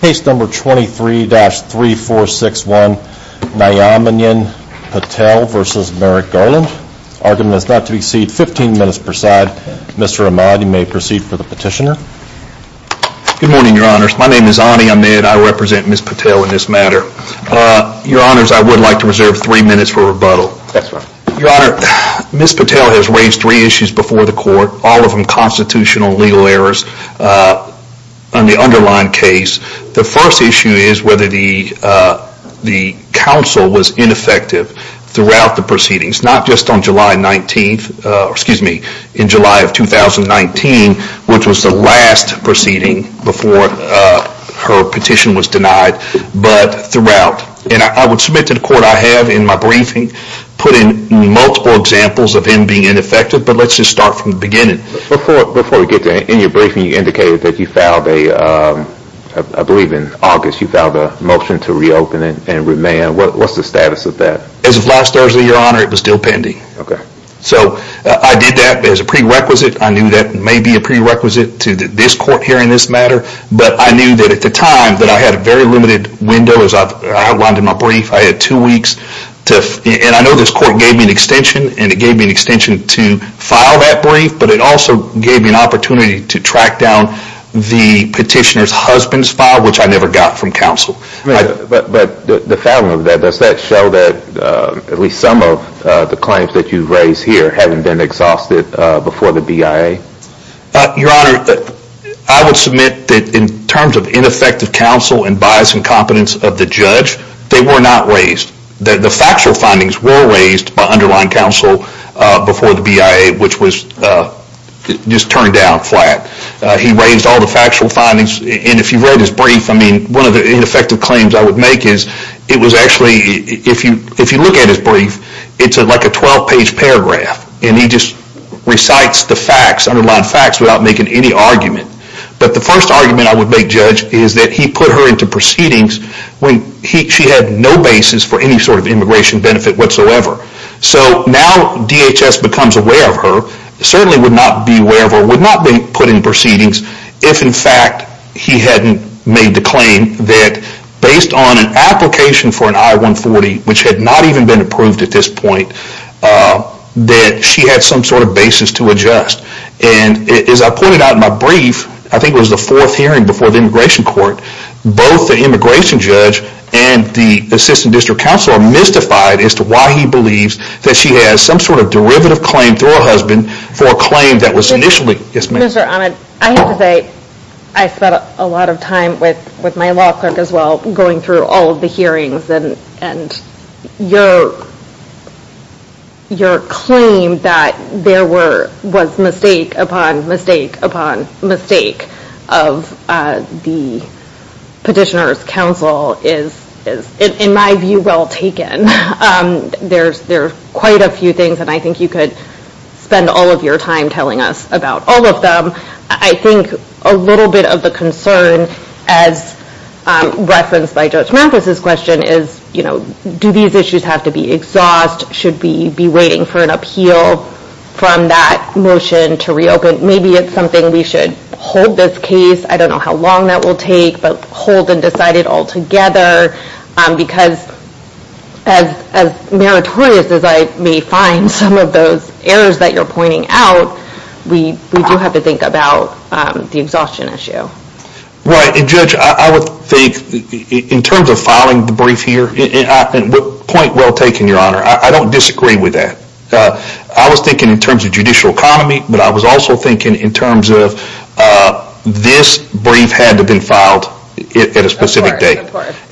Case number 23-3461, Nayanaben Patel v. Merrick Garland. Argument is not to be seen. 15 minutes per side. Mr. Ahmad, you may proceed for the petitioner. Good morning, your honors. My name is Ani Ahmed. I represent Ms. Patel in this matter. Your honors, I would like to reserve three minutes for rebuttal. Your honor, Ms. Patel has raised three issues before the court, all of them constitutional legal errors. On the underlying case, the first issue is whether the counsel was ineffective throughout the proceedings, not just on July 19th, excuse me, in July of 2019, which was the last proceeding before her petition was denied, but throughout. And I would submit to the court I have in my briefing, put in multiple examples of him being ineffective, but let's just start from the beginning. Before we get to that, in your briefing you indicated that you filed, I believe in August, you filed a motion to reopen and remand. What's the status of that? As of last Thursday, your honor, it was still pending. Okay. So I did that as a prerequisite. I knew that may be a prerequisite to this court hearing this matter, but I knew that at the time that I had a very limited window as I outlined in my brief, I had two weeks. And I know this court gave me an extension, and it gave me an extension to file that brief, but it also gave me an opportunity to track down the petitioner's husband's file, which I never got from counsel. But the fouling of that, does that show that at least some of the claims that you've raised here haven't been exhausted before the BIA? Your honor, I would submit that in terms of ineffective counsel and bias and competence of the judge, they were not raised. The factual findings were raised by underlying counsel before the BIA, which was just turned down flat. He raised all the factual findings, and if you read his brief, I mean, one of the ineffective claims I would make is, it was actually, if you look at his brief, it's like a 12-page paragraph. And he just recites the facts, underlying facts, without making any argument. But the first argument I would make, Judge, is that he put her into proceedings when she had no basis for any sort of immigration benefit whatsoever. So now DHS becomes aware of her, certainly would not be aware of her, would not be put in proceedings, if in fact he hadn't made the claim that based on an application for an I-140, which had not even been approved at this point, that she had some sort of basis to adjust. And as I pointed out in my brief, I think it was the fourth hearing before the immigration court, both the immigration judge and the assistant district counsel are mystified as to why he believes that she has some sort of derivative claim through her husband for a claim that was initially... Mr. Ahmed, I have to say, I spent a lot of time with my law clerk as well, going through all of the hearings, and your claim that there was mistake upon mistake upon mistake of the petitioner's counsel is, in my view, well taken. There are quite a few things, and I think you could spend all of your time telling us about all of them. I think a little bit of the concern as referenced by Judge Mathis' question is, do these issues have to be exhaust? Should we be waiting for an appeal from that motion to reopen? Maybe it's something we should hold this case. I don't know how long that will take, but hold and decide it all together. Because as meritorious as I may find some of those errors that you're pointing out, we do have to think about the exhaustion issue. Right, and Judge, I would think, in terms of filing the brief here, point well taken, Your Honor. I don't disagree with that. I was thinking in terms of judicial economy, but I was also thinking in terms of this brief had to have been filed at a specific date.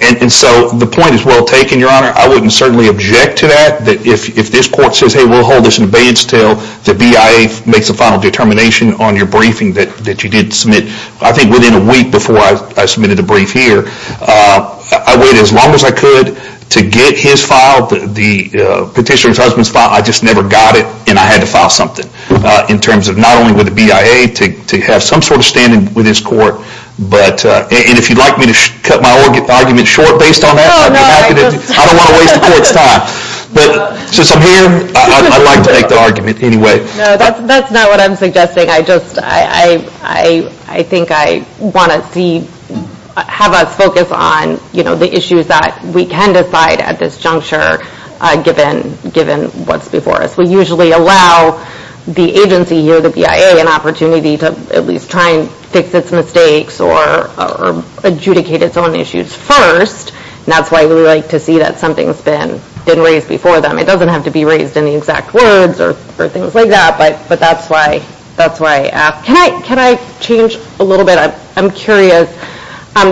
And so the point is well taken, Your Honor. I wouldn't certainly object to that. If this court says, hey, we'll hold this in abeyance until the BIA makes a final determination on your briefing that you did submit, I think within a week before I submitted a brief here, I waited as long as I could to get his file, the petitioner's husband's file. I just never got it, and I had to file something in terms of not only with the BIA to have some sort of standing with this court, but if you'd like me to cut my argument short based on that, I don't want to waste the court's time. But since I'm here, I'd like to make the argument anyway. No, that's not what I'm suggesting. I think I want to have us focus on the issues that we can decide at this juncture, given what's before us. We usually allow the agency here, the BIA, an opportunity to at least try and fix its mistakes or adjudicate its own issues first. And that's why we like to see that something's been raised before them. It doesn't have to be raised in the exact words or things like that, but that's why I ask. Can I change a little bit? I'm curious.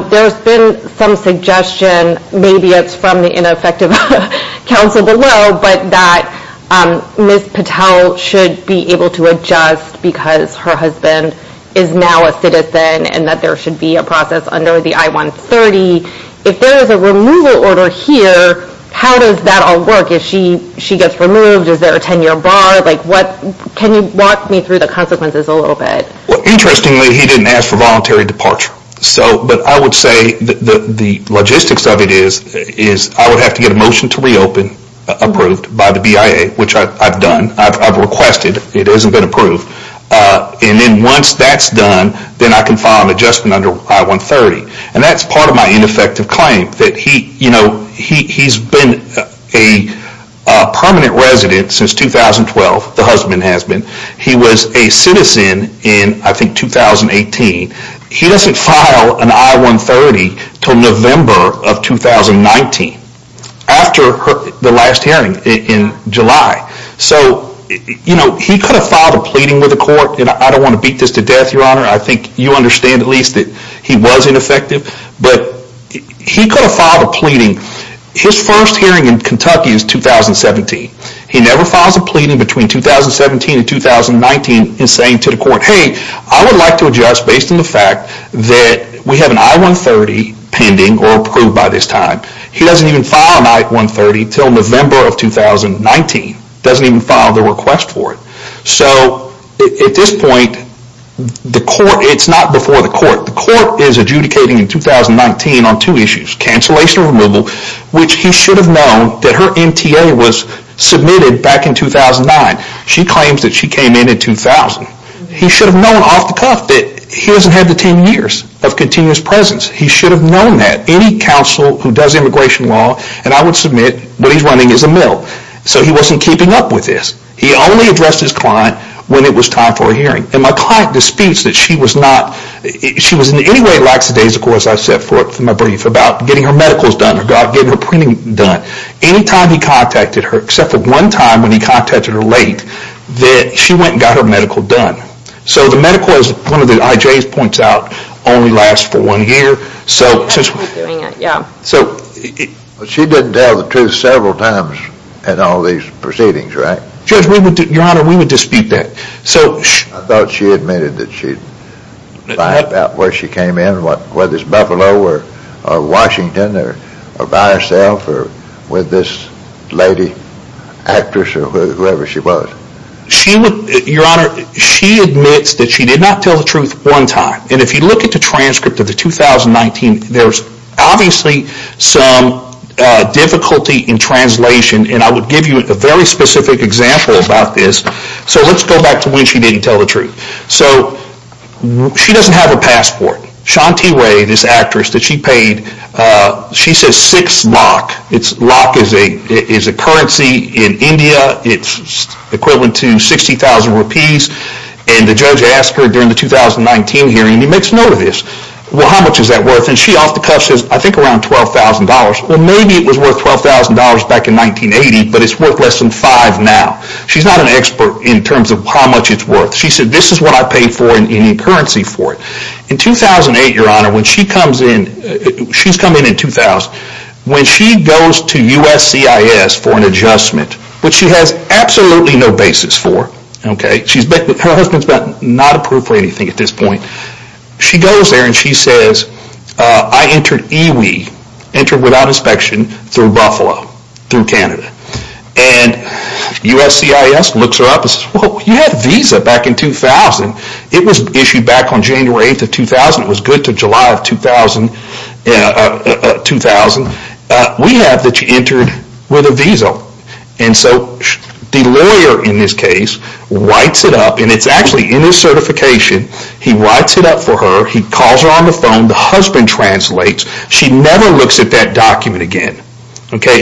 There's been some suggestion, maybe it's from the ineffective counsel below, but that Ms. Patel should be able to adjust because her husband is now a citizen and that there should be a process under the I-130. If there is a removal order here, how does that all work? If she gets removed, is there a 10-year bar? Can you walk me through the consequences a little bit? Interestingly, he didn't ask for voluntary departure. But I would say the logistics of it is I would have to get a motion to reopen approved by the BIA, which I've done. I've requested. It hasn't been approved. And then once that's done, then I can file an adjustment under I-130. And that's part of my ineffective claim, that he's been a permanent resident since 2012, the husband has been. He was a citizen in, I think, 2018. He doesn't file an I-130 until November of 2019, after the last hearing in July. So he could have filed a pleading with the court, and I don't want to beat this to death, Your Honor. I think you understand at least that he was ineffective. But he could have filed a pleading. His first hearing in Kentucky is 2017. He never files a pleading between 2017 and 2019 in saying to the court, hey, I would like to adjust based on the fact that we have an I-130 pending or approved by this time. He doesn't even file an I-130 until November of 2019. Doesn't even file the request for it. So at this point, the court, it's not before the court. The court is adjudicating in 2019 on two issues. Cancellation or removal, which he should have known that her MTA was submitted back in 2009. She claims that she came in in 2000. He should have known off the cuff that he hasn't had the 10 years of continuous presence. He should have known that. Any counsel who does immigration law, and I would submit what he's running is a mill. So he wasn't keeping up with this. He only addressed his client when it was time for a hearing. And my client disputes that she was not, she was in any way lax the days, of course, I set forth in my brief, about getting her medicals done, getting her printing done. Anytime he contacted her, except for one time when he contacted her late, that she went and got her medical done. So the medical, as one of the IJs points out, only lasts for one year. So she didn't tell the truth several times in all these proceedings, right? Judge, Your Honor, we would dispute that. I thought she admitted that she lied about where she came in, whether it's Buffalo or Washington, or by herself, or with this lady actress, or whoever she was. She would, Your Honor, she admits that she did not tell the truth one time. And if you look at the transcript of the 2019, there's obviously some difficulty in translation, and I would give you a very specific example about this. So let's go back to when she didn't tell the truth. So she doesn't have a passport. Shanti Ray, this actress that she paid, she says six lakh. Lakh is a currency in India. It's equivalent to 60,000 rupees. And the judge asked her during the 2019 hearing, and he makes note of this, well, how much is that worth? And she off the cuff says, I think around $12,000. Well, maybe it was worth $12,000 back in 1980, but it's worth less than five now. She's not an expert in terms of how much it's worth. She said, this is what I paid for in Indian currency for it. In 2008, Your Honor, when she comes in, she's coming in 2000, when she goes to USCIS for an adjustment, which she has absolutely no basis for, okay, her husband's not approved for anything at this point, she goes there and she says, I entered Iwi, entered without inspection, through Buffalo, through Canada. And USCIS looks her up and says, well, you had a visa back in 2000. It was issued back on January 8th of 2000. It was good to July of 2000. We have that you entered with a visa. And so the lawyer in this case writes it up, and it's actually in his certification. He writes it up for her. He calls her on the phone. The husband translates. She never looks at that document again.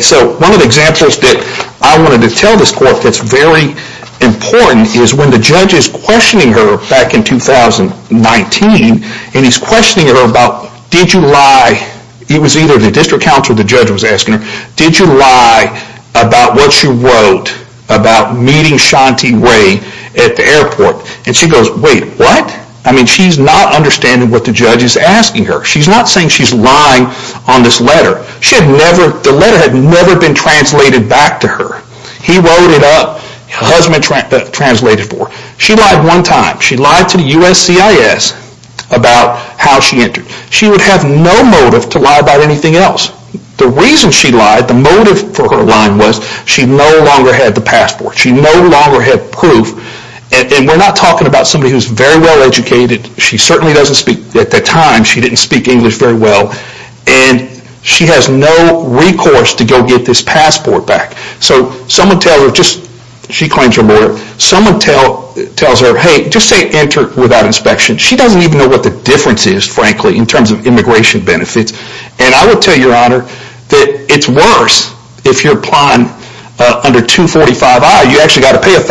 So one of the examples that I wanted to tell this court that's very important is when the judge is questioning her back in 2019, and he's questioning her about, did you lie? It was either the district counsel or the judge was asking her, did you lie about what you wrote about meeting Shanti Ray at the airport? And she goes, wait, what? I mean, she's not understanding what the judge is asking her. She's not saying she's lying on this letter. The letter had never been translated back to her. He wrote it up. Her husband translated for her. She lied one time. She lied to the USCIS about how she entered. She would have no motive to lie about anything else. The reason she lied, the motive for her lying was she no longer had the passport. She no longer had proof. And we're not talking about somebody who's very well-educated. She certainly doesn't speak. At the time, she didn't speak English very well. And she has no recourse to go get this passport back. So someone tells her, just she claims her murder. Someone tells her, hey, just say enter without inspection. She doesn't even know what the difference is, frankly, in terms of immigration benefits. And I will tell you, Your Honor, that it's worse if you're applying under 245-I. You actually got to pay $1,000.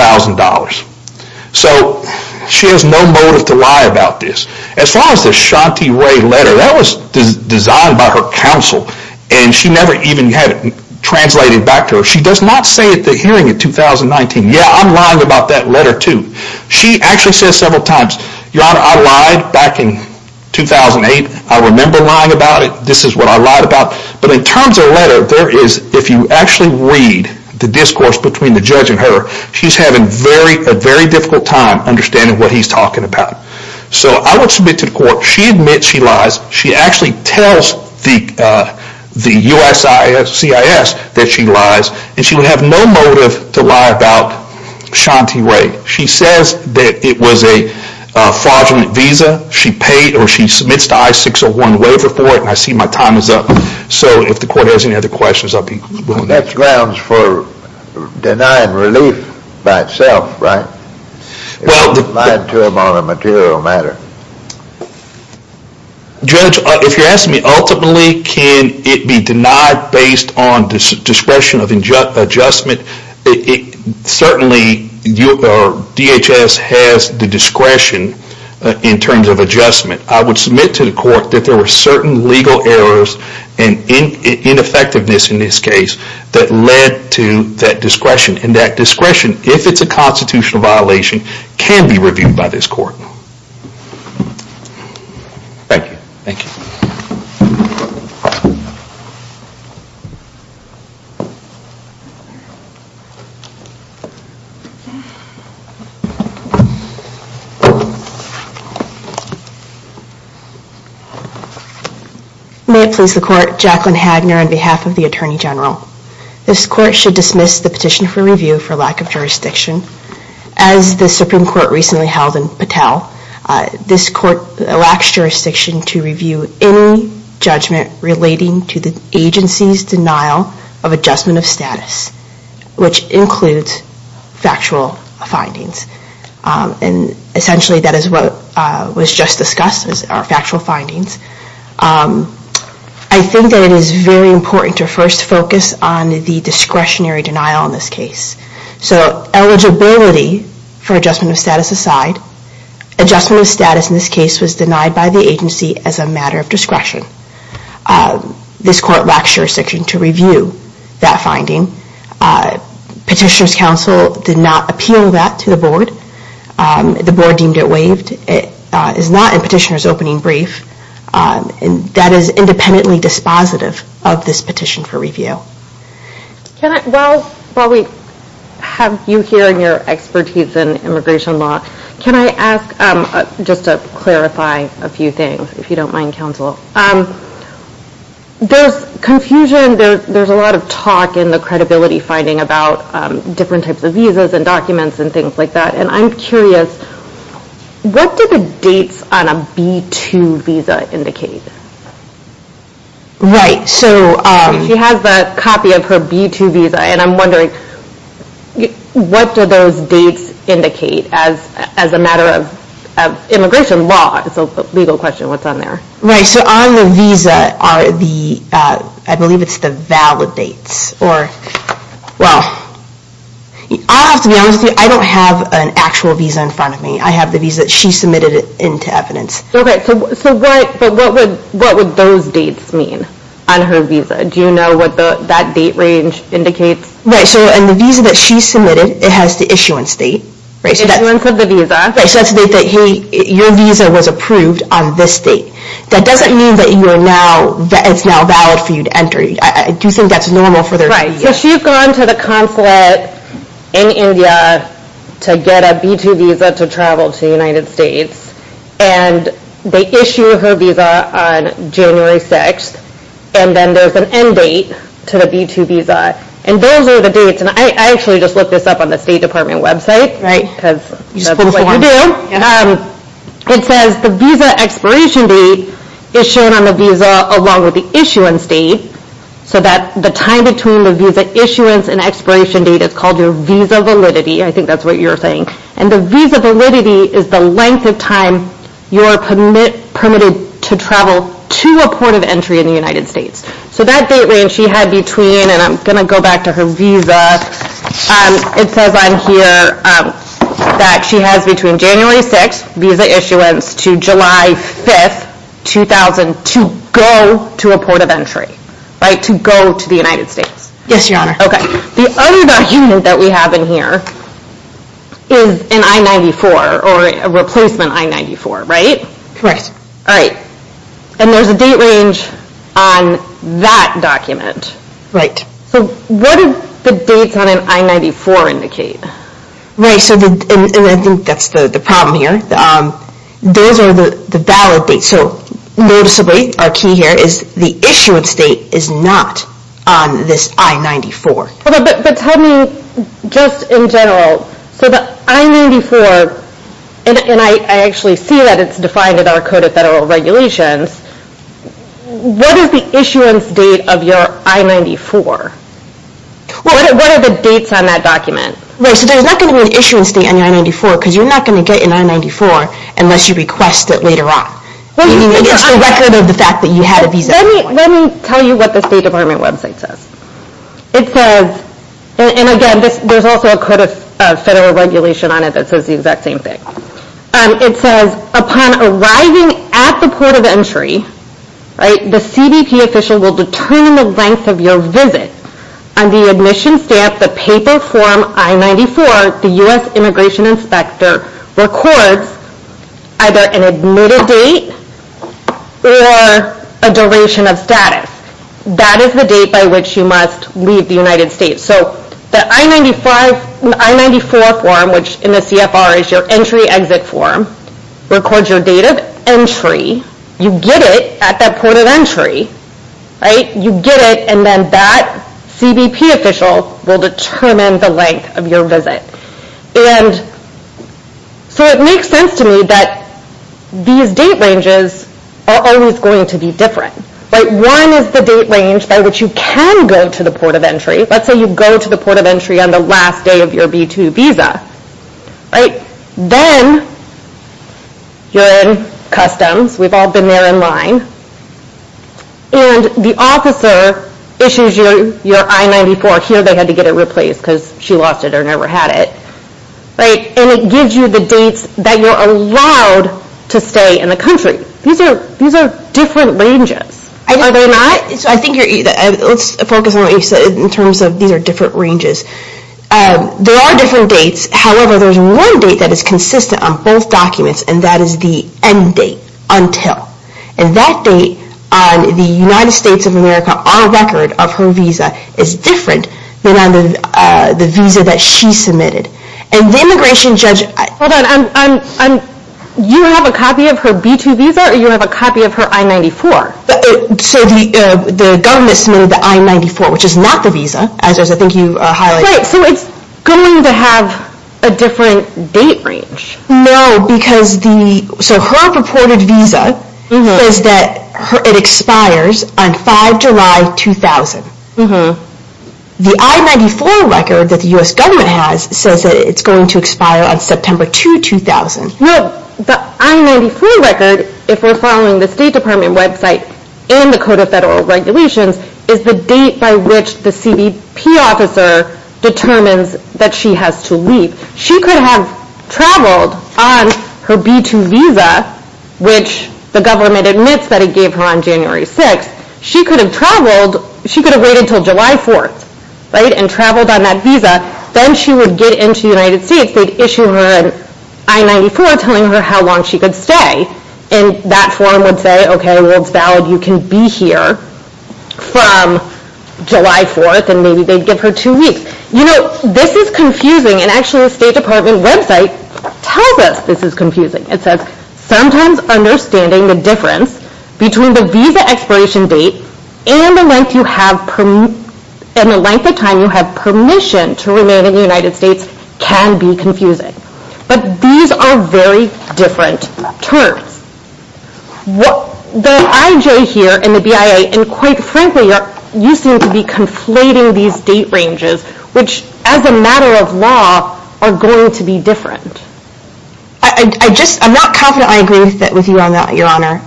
So she has no motive to lie about this. As far as the Shanti Ray letter, that was designed by her counsel. And she never even had it translated back to her. She does not say at the hearing in 2019, yeah, I'm lying about that letter, too. She actually says several times, Your Honor, I lied back in 2008. I remember lying about it. This is what I lied about. But in terms of a letter, there is, if you actually read the discourse between the judge and her, she's having a very difficult time understanding what he's talking about. So I would submit to the court, she admits she lies. She actually tells the USCIS that she lies. And she would have no motive to lie about Shanti Ray. She says that it was a fraudulent visa. She paid or she submits the I-601 waiver for it. And I see my time is up. So if the court has any other questions, I'll be moving on. That grounds for denying relief by itself, right? It's not defined to him on a material matter. Judge, if you're asking me, ultimately, can it be denied based on discretion of adjustment? Certainly, DHS has the discretion in terms of adjustment. I would submit to the court that there were certain legal errors and ineffectiveness in this case that led to that discretion. And that discretion, if it's a constitutional violation, can be reviewed by this court. Thank you. Thank you. May it please the court, Jacqueline Hagner on behalf of the Attorney General. This court should dismiss the petition for review for lack of jurisdiction. As the Supreme Court recently held in Patel, this court lacks jurisdiction to review any judgment relating to the agency's denial of adjustment of status, which includes factual findings. And essentially, that is what was just discussed, are factual findings. I think that it is very important to first focus on the discretionary denial in this case. So eligibility for adjustment of status aside, adjustment of status in this case was denied by the agency as a matter of discretion. This court lacks jurisdiction to review that finding. Petitioner's counsel did not appeal that to the board. The board deemed it waived. It is not in petitioner's opening brief. That is independently dispositive of this petition for review. While we have you here and your expertise in immigration law, can I ask just to clarify a few things, if you don't mind, counsel. There's confusion, there's a lot of talk in the credibility finding about different types of visas and documents and things like that. And I'm curious, what do the dates on a B-2 visa indicate? Right, so... She has the copy of her B-2 visa, and I'm wondering, what do those dates indicate as a matter of immigration law? It's a legal question what's on there. Right, so on the visa are the, I believe it's the valid dates. Well, I'll have to be honest with you, I don't have an actual visa in front of me. I have the visa that she submitted into evidence. Okay, so what would those dates mean on her visa? Do you know what that date range indicates? Right, so on the visa that she submitted, it has the issuance date. The issuance of the visa. Right, so that's the date that your visa was approved on this date. That doesn't mean that it's now valid for you to enter. I do think that's normal for their visa. Right, so she's gone to the consulate in India to get a B-2 visa to travel to the United States, and they issue her visa on January 6th, and then there's an end date to the B-2 visa. And those are the dates, and I actually just looked this up on the State Department website, because that's what you do. It says the visa expiration date is shown on the visa along with the issuance date, so that the time between the visa issuance and expiration date is called your visa validity. I think that's what you're saying. And the visa validity is the length of time you are permitted to travel to a port of entry in the United States. So that date range she had between, and I'm going to go back to her visa. It says on here that she has between January 6th, visa issuance, to July 5th, 2000, to go to a port of entry. Right, to go to the United States. Yes, Your Honor. Okay. The other document that we have in here is an I-94, or a replacement I-94, right? Right. All right. And there's a date range on that document. Right. So what do the dates on an I-94 indicate? Right, and I think that's the problem here. Those are the valid dates. So noticeably, our key here is the issuance date is not on this I-94. But tell me just in general, so the I-94, and I actually see that it's defined in our Code of Federal Regulations, what is the issuance date of your I-94? What are the dates on that document? Right, so there's not going to be an issuance date on your I-94 because you're not going to get an I-94 unless you request it later on. It's the record of the fact that you had a visa. Let me tell you what the State Department website says. It says, and again, there's also a Code of Federal Regulation on it that says the exact same thing. It says, upon arriving at the port of entry, the CBP official will determine the length of your visit. On the admission stamp, the paper form I-94, the U.S. Immigration Inspector records either an admitted date or a duration of status. That is the date by which you must leave the United States. So the I-94 form, which in the CFR is your entry-exit form, records your date of entry. You get it at that port of entry. You get it, and then that CBP official will determine the length of your visit. So it makes sense to me that these date ranges are always going to be different. One is the date range by which you can go to the port of entry. Let's say you go to the port of entry on the last day of your B-2 visa. Then you're in customs. We've all been there in line. And the officer issues you your I-94. Here they had to get it replaced because she lost it or never had it. And it gives you the dates that you're allowed to stay in the country. These are different ranges, are they not? Let's focus on what you said in terms of these are different ranges. There are different dates. However, there's one date that is consistent on both documents, and that is the end date, until. And that date on the United States of America, our record of her visa, is different than on the visa that she submitted. And the immigration judge— Hold on. You have a copy of her B-2 visa or you have a copy of her I-94? So the government submitted the I-94, which is not the visa, as I think you highlighted. Right. So it's going to have a different date range. No, because the—so her purported visa says that it expires on 5 July 2000. The I-94 record that the U.S. government has says that it's going to expire on September 2, 2000. No, the I-94 record, if we're following the State Department website and the Code of Federal Regulations, is the date by which the CBP officer determines that she has to leave. She could have traveled on her B-2 visa, which the government admits that it gave her on January 6. She could have traveled—she could have waited until July 4, right, and traveled on that visa. Then she would get into the United States. They'd issue her an I-94 telling her how long she could stay. And that form would say, okay, well, it's valid. You can be here from July 4, and maybe they'd give her two weeks. You know, this is confusing, and actually the State Department website tells us this is confusing. It says, sometimes understanding the difference between the visa expiration date and the length of time you have permission to remain in the United States can be confusing. But these are very different terms. The IJ here and the BIA, and quite frankly, you seem to be conflating these date ranges, which as a matter of law are going to be different. I just—I'm not confident I agree with you on that, Your Honor.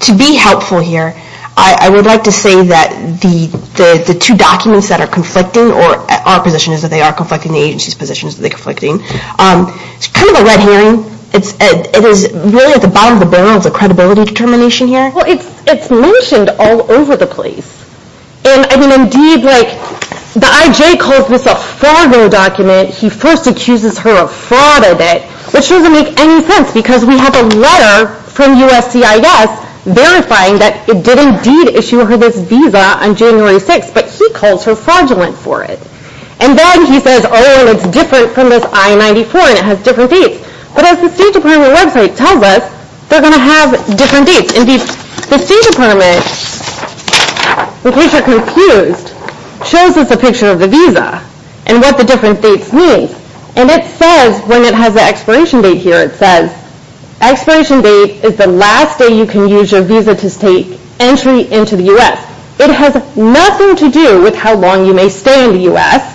To be helpful here, I would like to say that the two documents that are conflicting, or our position is that they are conflicting, the agency's position is that they're conflicting. It's kind of a red herring. It is really at the bottom of the barrel of the credibility determination here. Well, it's mentioned all over the place. And I mean, indeed, like, the IJ calls this a fraudulent document. He first accuses her of fraud a bit, which doesn't make any sense, because we have a letter from USCIS verifying that it did indeed issue her this visa on January 6, but he calls her fraudulent for it. And then he says, oh, well, it's different from this I-94, and it has different dates. But as the State Department website tells us, they're going to have different dates. And indeed, the State Department, in case you're confused, shows us a picture of the visa and what the different dates mean. And it says, when it has the expiration date here, it says, expiration date is the last day you can use your visa to state entry into the U.S. It has nothing to do with how long you may stay in the U.S.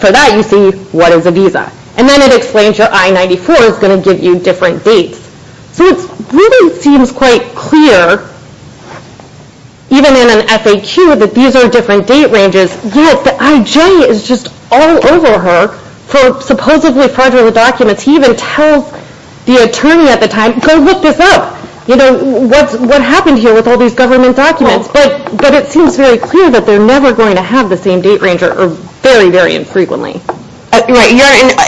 For that, you see what is a visa. And then it explains your I-94 is going to give you different dates. So it really seems quite clear, even in an FAQ, that these are different date ranges. Yet the IJ is just all over her for supposedly fraudulent documents. He even tells the attorney at the time, go look this up. You know, what happened here with all these government documents? But it seems very clear that they're never going to have the same date range, or very, very infrequently. Right.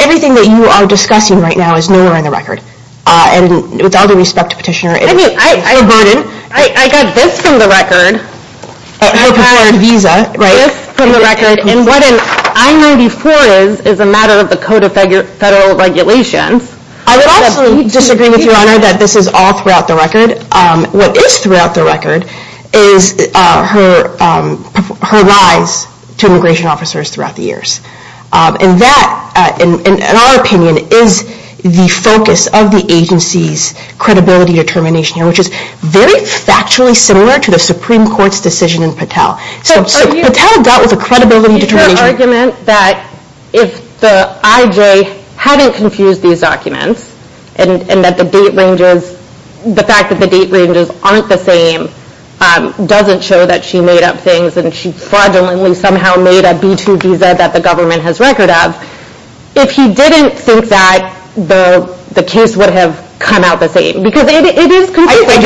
Everything that you are discussing right now is nowhere on the record. And with all due respect to Petitioner, it is a burden. I mean, I got this from the record. Her preferred visa, right? This from the record. And what an I-94 is, is a matter of the Code of Federal Regulations. I would also disagree with Your Honor that this is all throughout the record. What is throughout the record is her lies to immigration officers throughout the years. And that, in our opinion, is the focus of the agency's credibility determination. Which is very factually similar to the Supreme Court's decision in Patel. So Patel dealt with the credibility determination. Is her argument that if the IJ hadn't confused these documents, and that the date ranges, the fact that the date ranges aren't the same, doesn't show that she made up things, and she fraudulently somehow made a B-2 visa that the government has record of. If he didn't think that, the case would have come out the same. Because it is confusing.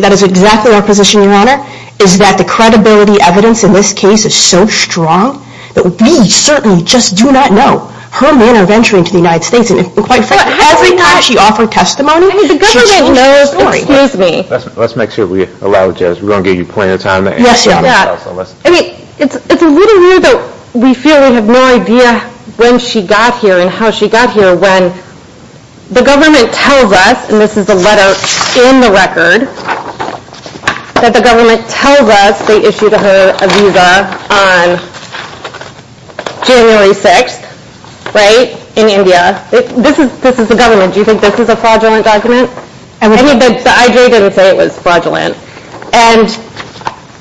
That is exactly our position, Your Honor, is that the credibility evidence in this case is so strong that we certainly just do not know her manner of entering into the United States. And quite frankly, every time she offered testimony, the government knows the story. Excuse me. Let's make sure we allow Jez. We're going to give you plenty of time. Yes, Your Honor. I mean, it's a little weird that we feel we have no idea when she got here and how she got here when the government tells us, and this is the letter in the record, that the government tells us they issued her a visa on January 6th, right? In India. This is the government. Do you think this is a fraudulent document? The IJ didn't say it was fraudulent. And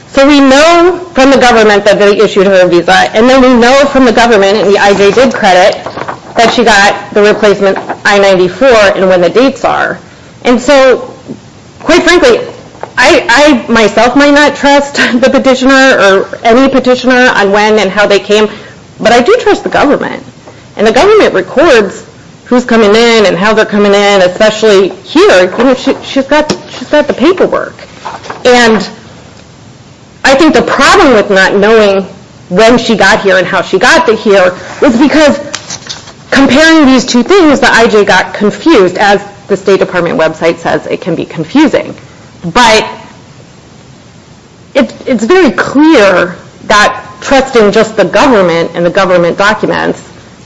so we know from the government that they issued her a visa, and then we know from the government and the IJ did credit that she got the replacement I-94 and when the dates are. And so, quite frankly, I myself might not trust the petitioner or any petitioner on when and how they came, but I do trust the government. And the government records who's coming in and how they're coming in, especially here, she's got the paperwork. And I think the problem with not knowing when she got here and how she got here is because comparing these two things, the IJ got confused, as the State Department website says, it can be confusing. But it's very clear that trusting just the government and the government documents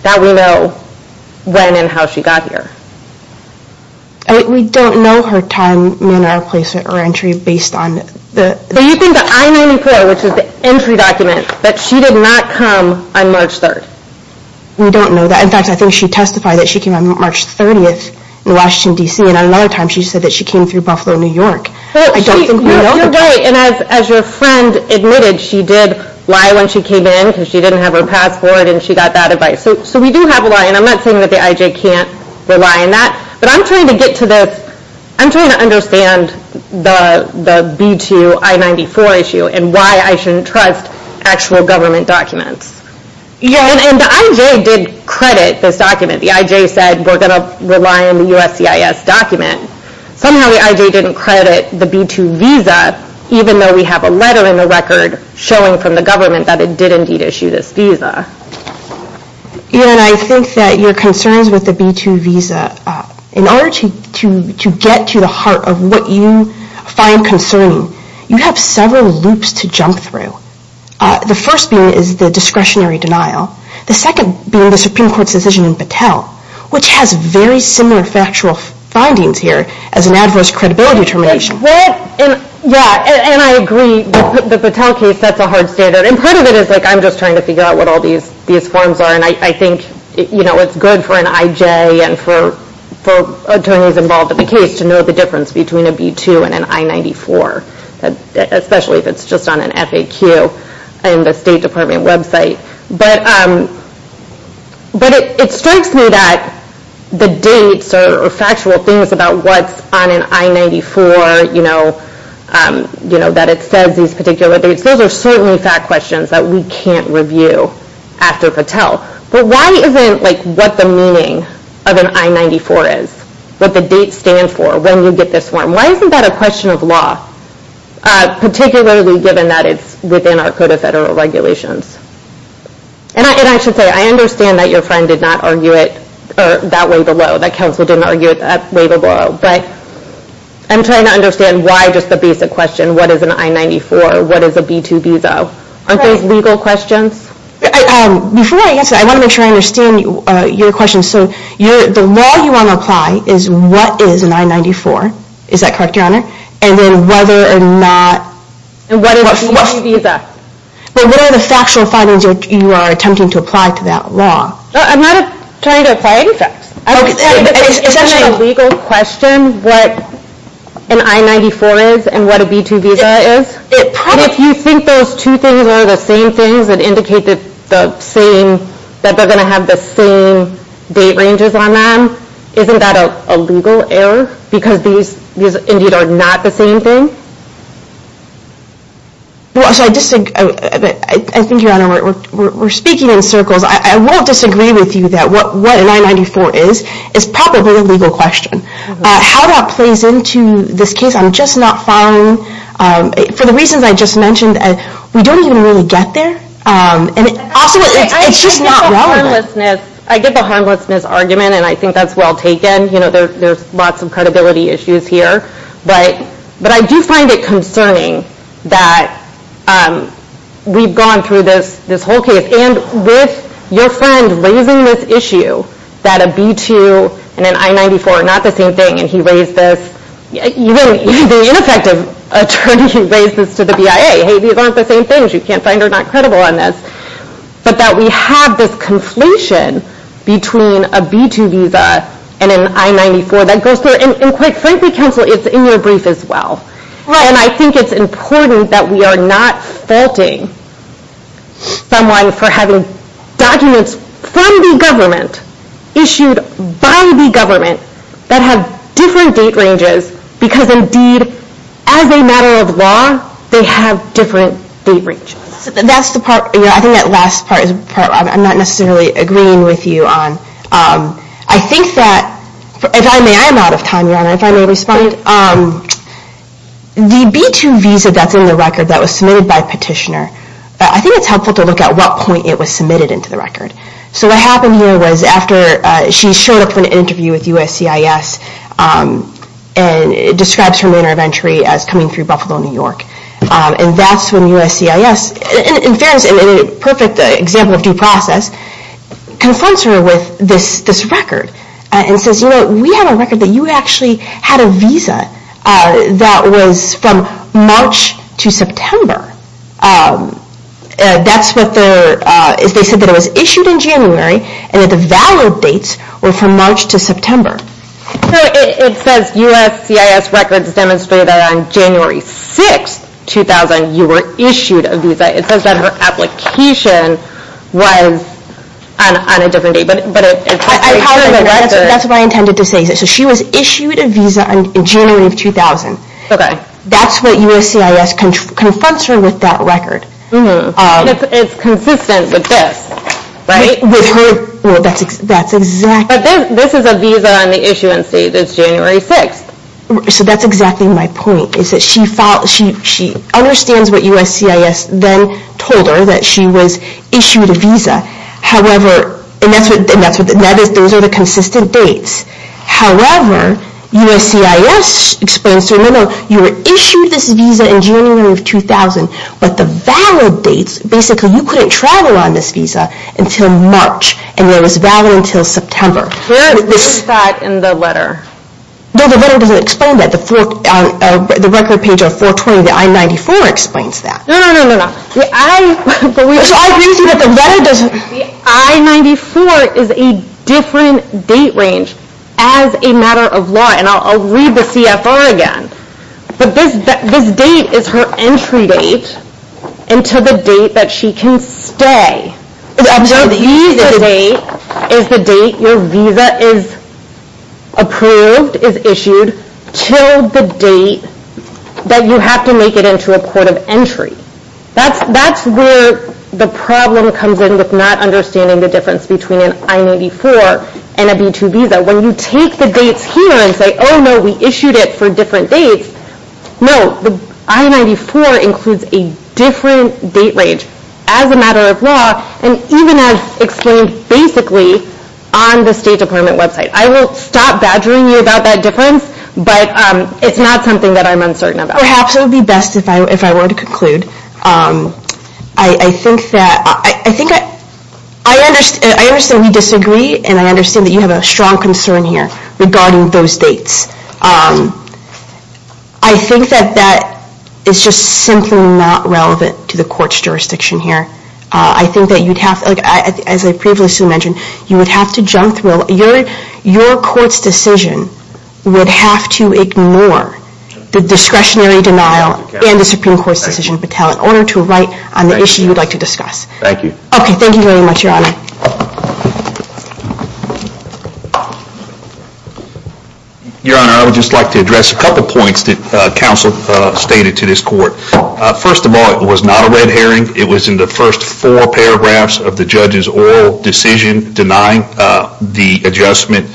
that we know when and how she got here. We don't know her time in or place or entry based on the... Do you think the I-94, which is the entry document, that she did not come on March 3rd? We don't know that. In fact, I think she testified that she came on March 30th in Washington, D.C., and another time she said that she came through Buffalo, New York. I don't think we know. You're right. And as your friend admitted, she did lie when she came in because she didn't have her passport and she got that advice. So we do have a lie, and I'm not saying that the IJ can't rely on that. But I'm trying to get to this. I'm trying to understand the B-2 I-94 issue and why I shouldn't trust actual government documents. And the IJ did credit this document. The IJ said we're going to rely on the USCIS document. Somehow the IJ didn't credit the B-2 visa, even though we have a letter in the record showing from the government that it did indeed issue this visa. And I think that your concerns with the B-2 visa, in order to get to the heart of what you find concerning, you have several loops to jump through. The first being is the discretionary denial. The second being the Supreme Court's decision in Patel, which has very similar factual findings here as an adverse credibility determination. Yeah, and I agree, the Patel case, that's a hard standard. And part of it is like I'm just trying to figure out what all these forms are. And I think it's good for an IJ and for attorneys involved in the case to know the difference between a B-2 and an I-94, especially if it's just on an FAQ and a State Department website. But it strikes me that the dates or factual things about what's on an I-94, that it says these particular dates, those are certainly fact questions that we can't review after Patel. But why isn't what the meaning of an I-94 is, what the dates stand for, when you get this form, why isn't that a question of law, particularly given that it's within our Code of Federal Regulations? And I should say, I understand that your friend did not argue it that way below, that counsel didn't argue it that way below. But I'm trying to understand why just the basic question, what is an I-94, what is a B-2 visa? Aren't those legal questions? Before I answer that, I want to make sure I understand your question. So the law you want to apply is what is an I-94, is that correct, Your Honor? And then whether or not... And what is a B-2 visa? But what are the factual findings you are attempting to apply to that law? I'm not trying to apply any facts. If this is a legal question, what an I-94 is and what a B-2 visa is, if you think those two things are the same things that indicate that they're going to have the same date ranges on them, isn't that a legal error? Because these, indeed, are not the same thing? I think, Your Honor, we're speaking in circles. I won't disagree with you that what an I-94 is is probably a legal question. How that plays into this case, I'm just not following. For the reasons I just mentioned, we don't even really get there. And also, it's just not relevant. I get the harmlessness argument, and I think that's well taken. There's lots of credibility issues here. But I do find it concerning that we've gone through this whole case and with your friend raising this issue that a B-2 and an I-94 are not the same thing, and he raised this. Even the ineffective attorney raised this to the BIA. Hey, these aren't the same things. You can't find her not credible on this. But that we have this conflation between a B-2 visa and an I-94 that goes through. And quite frankly, counsel, it's in your brief as well. And I think it's important that we are not faulting someone for having documents from the government, issued by the government, that have different date ranges because indeed, as a matter of law, they have different date ranges. That's the part, I think that last part, I'm not necessarily agreeing with you on. I think that, if I may, I'm out of time. If I may respond, the B-2 visa that's in the record that was submitted by Petitioner, I think it's helpful to look at what point it was submitted into the record. So what happened here was after she showed up for an interview with USCIS and it describes her manner of entry as coming through Buffalo, New York. And that's when USCIS, in fairness, in a perfect example of due process, confronts her with this record and says, you know, we have a record that you actually had a visa that was from March to September. That's what they're, they said that it was issued in January and that the valid dates were from March to September. So it says USCIS records demonstrate that on January 6, 2000, you were issued a visa. It says that her application was on a different date. That's what I intended to say. So she was issued a visa in January of 2000. That's what USCIS confronts her with that record. It's consistent with this, right? Well, that's exactly... But this is a visa on the issuance date. It's January 6th. So that's exactly my point. She understands what USCIS then told her, that she was issued a visa. However, and that's what, those are the consistent dates. However, USCIS explains to her, no, no, you were issued this visa in January of 2000, but the valid dates, basically you couldn't travel on this visa until March, and it was valid until September. Where is that in the letter? No, the letter doesn't explain that. The record page on 420, the I-94 explains that. No, no, no, no, no. The I-94 is a different date range as a matter of law, and I'll read the CFR again. But this date is her entry date until the date that she can stay. The visa date is the date your visa is approved, is issued, till the date that you have to make it into a court of entry. That's where the problem comes in with not understanding the difference between an I-94 and a B-2 visa. When you take the dates here and say, oh no, we issued it for different dates. No, the I-94 includes a different date range as a matter of law, and even as explained basically on the State Department website. I will stop badgering you about that difference, but it's not something that I'm uncertain about. Perhaps it would be best if I were to conclude. I think that... I understand we disagree, and I understand that you have a strong concern here regarding those dates. I think that that is just simply not relevant to the court's jurisdiction here. I think that you'd have to, as I previously mentioned, you would have to jump through. Your court's decision would have to ignore the discretionary denial and the Supreme Court's decision battalion in order to write on the issue you'd like to discuss. Thank you. Okay, thank you very much, Your Honor. Your Honor, I would just like to address a couple points that counsel stated to this court. First of all, it was not a red herring. It was in the first four paragraphs of the judge's oral decision denying the adjustment.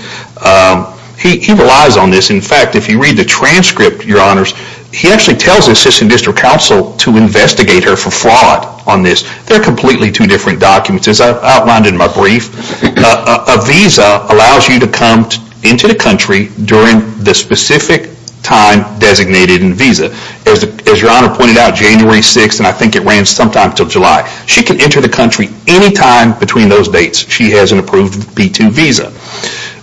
He relies on this. In fact, if you read the transcript, Your Honors, he actually tells the Assistant District Counsel to investigate her for fraud on this. They're completely two different documents. As I outlined in my brief, a visa allows you to come into the country during the specific time designated in the visa. As Your Honor pointed out, January 6th, and I think it ran sometime until July, she can enter the country any time between those dates she has an approved B-2 visa.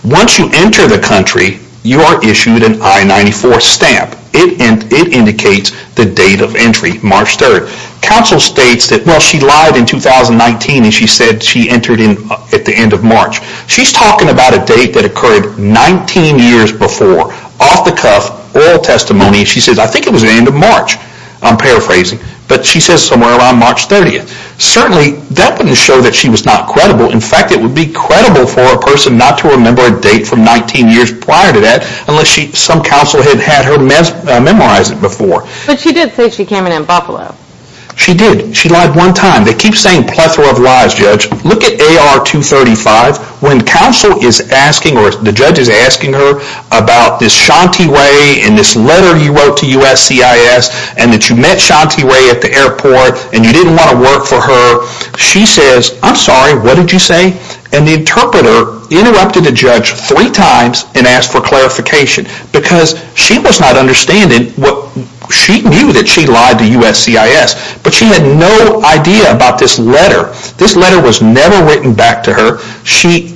Once you enter the country, you are issued an I-94 stamp. It indicates the date of entry, March 3rd. Counsel states that, well, she lied in 2019 and she said she entered at the end of March. She's talking about a date that occurred 19 years before. Off the cuff, oral testimony, she says, I think it was the end of March. I'm paraphrasing. But she says somewhere around March 30th. Certainly, that wouldn't show that she was not credible. In fact, it would be credible for a person not to remember a date from 19 years prior to that unless some counsel had had her memorize it before. But she did say she came in in Buffalo. She did. She lied one time. They keep saying plethora of lies, Judge. Look at AR-235. When counsel is asking or the judge is asking her about this Shanti Ray and this letter you wrote to USCIS and that you met Shanti Ray at the airport and you didn't want to work for her, she says, I'm sorry. What did you say? And the interpreter interrupted the judge three times and asked for clarification because she was not understanding what she knew that she lied to USCIS. But she had no idea about this letter. This letter was never written back to her. She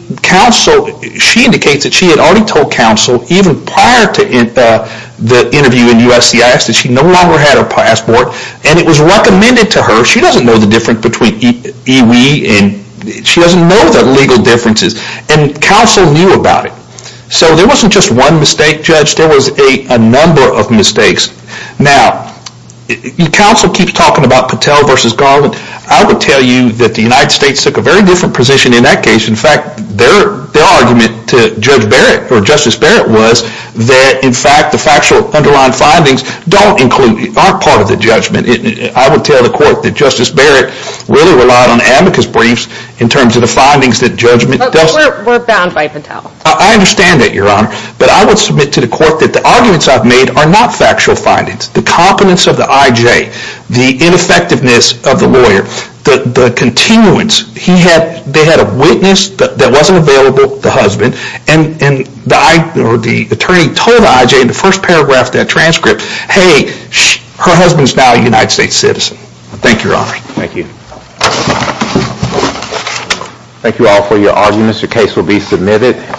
indicates that she had already told counsel even prior to the interview in USCIS that she no longer had her passport. And it was recommended to her. She doesn't know the difference between EWE and she doesn't know the legal differences. And counsel knew about it. So there wasn't just one mistake, Judge. There was a number of mistakes. Now, counsel keeps talking about Patel versus Garland. I would tell you that the United States took a very different position in that case. In fact, their argument to Judge Barrett or Justice Barrett was that, in fact, the factual underlying findings don't include, aren't part of the judgment. I would tell the court that Justice Barrett really relied on amicus briefs in terms of the findings that judgment does. But we're bound by Patel. I understand that, Your Honor. But I would submit to the court that the arguments I've made are not factual findings. The competence of the IJ, the ineffectiveness of the lawyer, the continuance. They had a witness that wasn't available, the husband. And the attorney told the IJ in the first paragraph of that transcript, hey, her husband's now a United States citizen. Thank you, Your Honor. Thank you. Thank you all for your arguments. Your case will be submitted.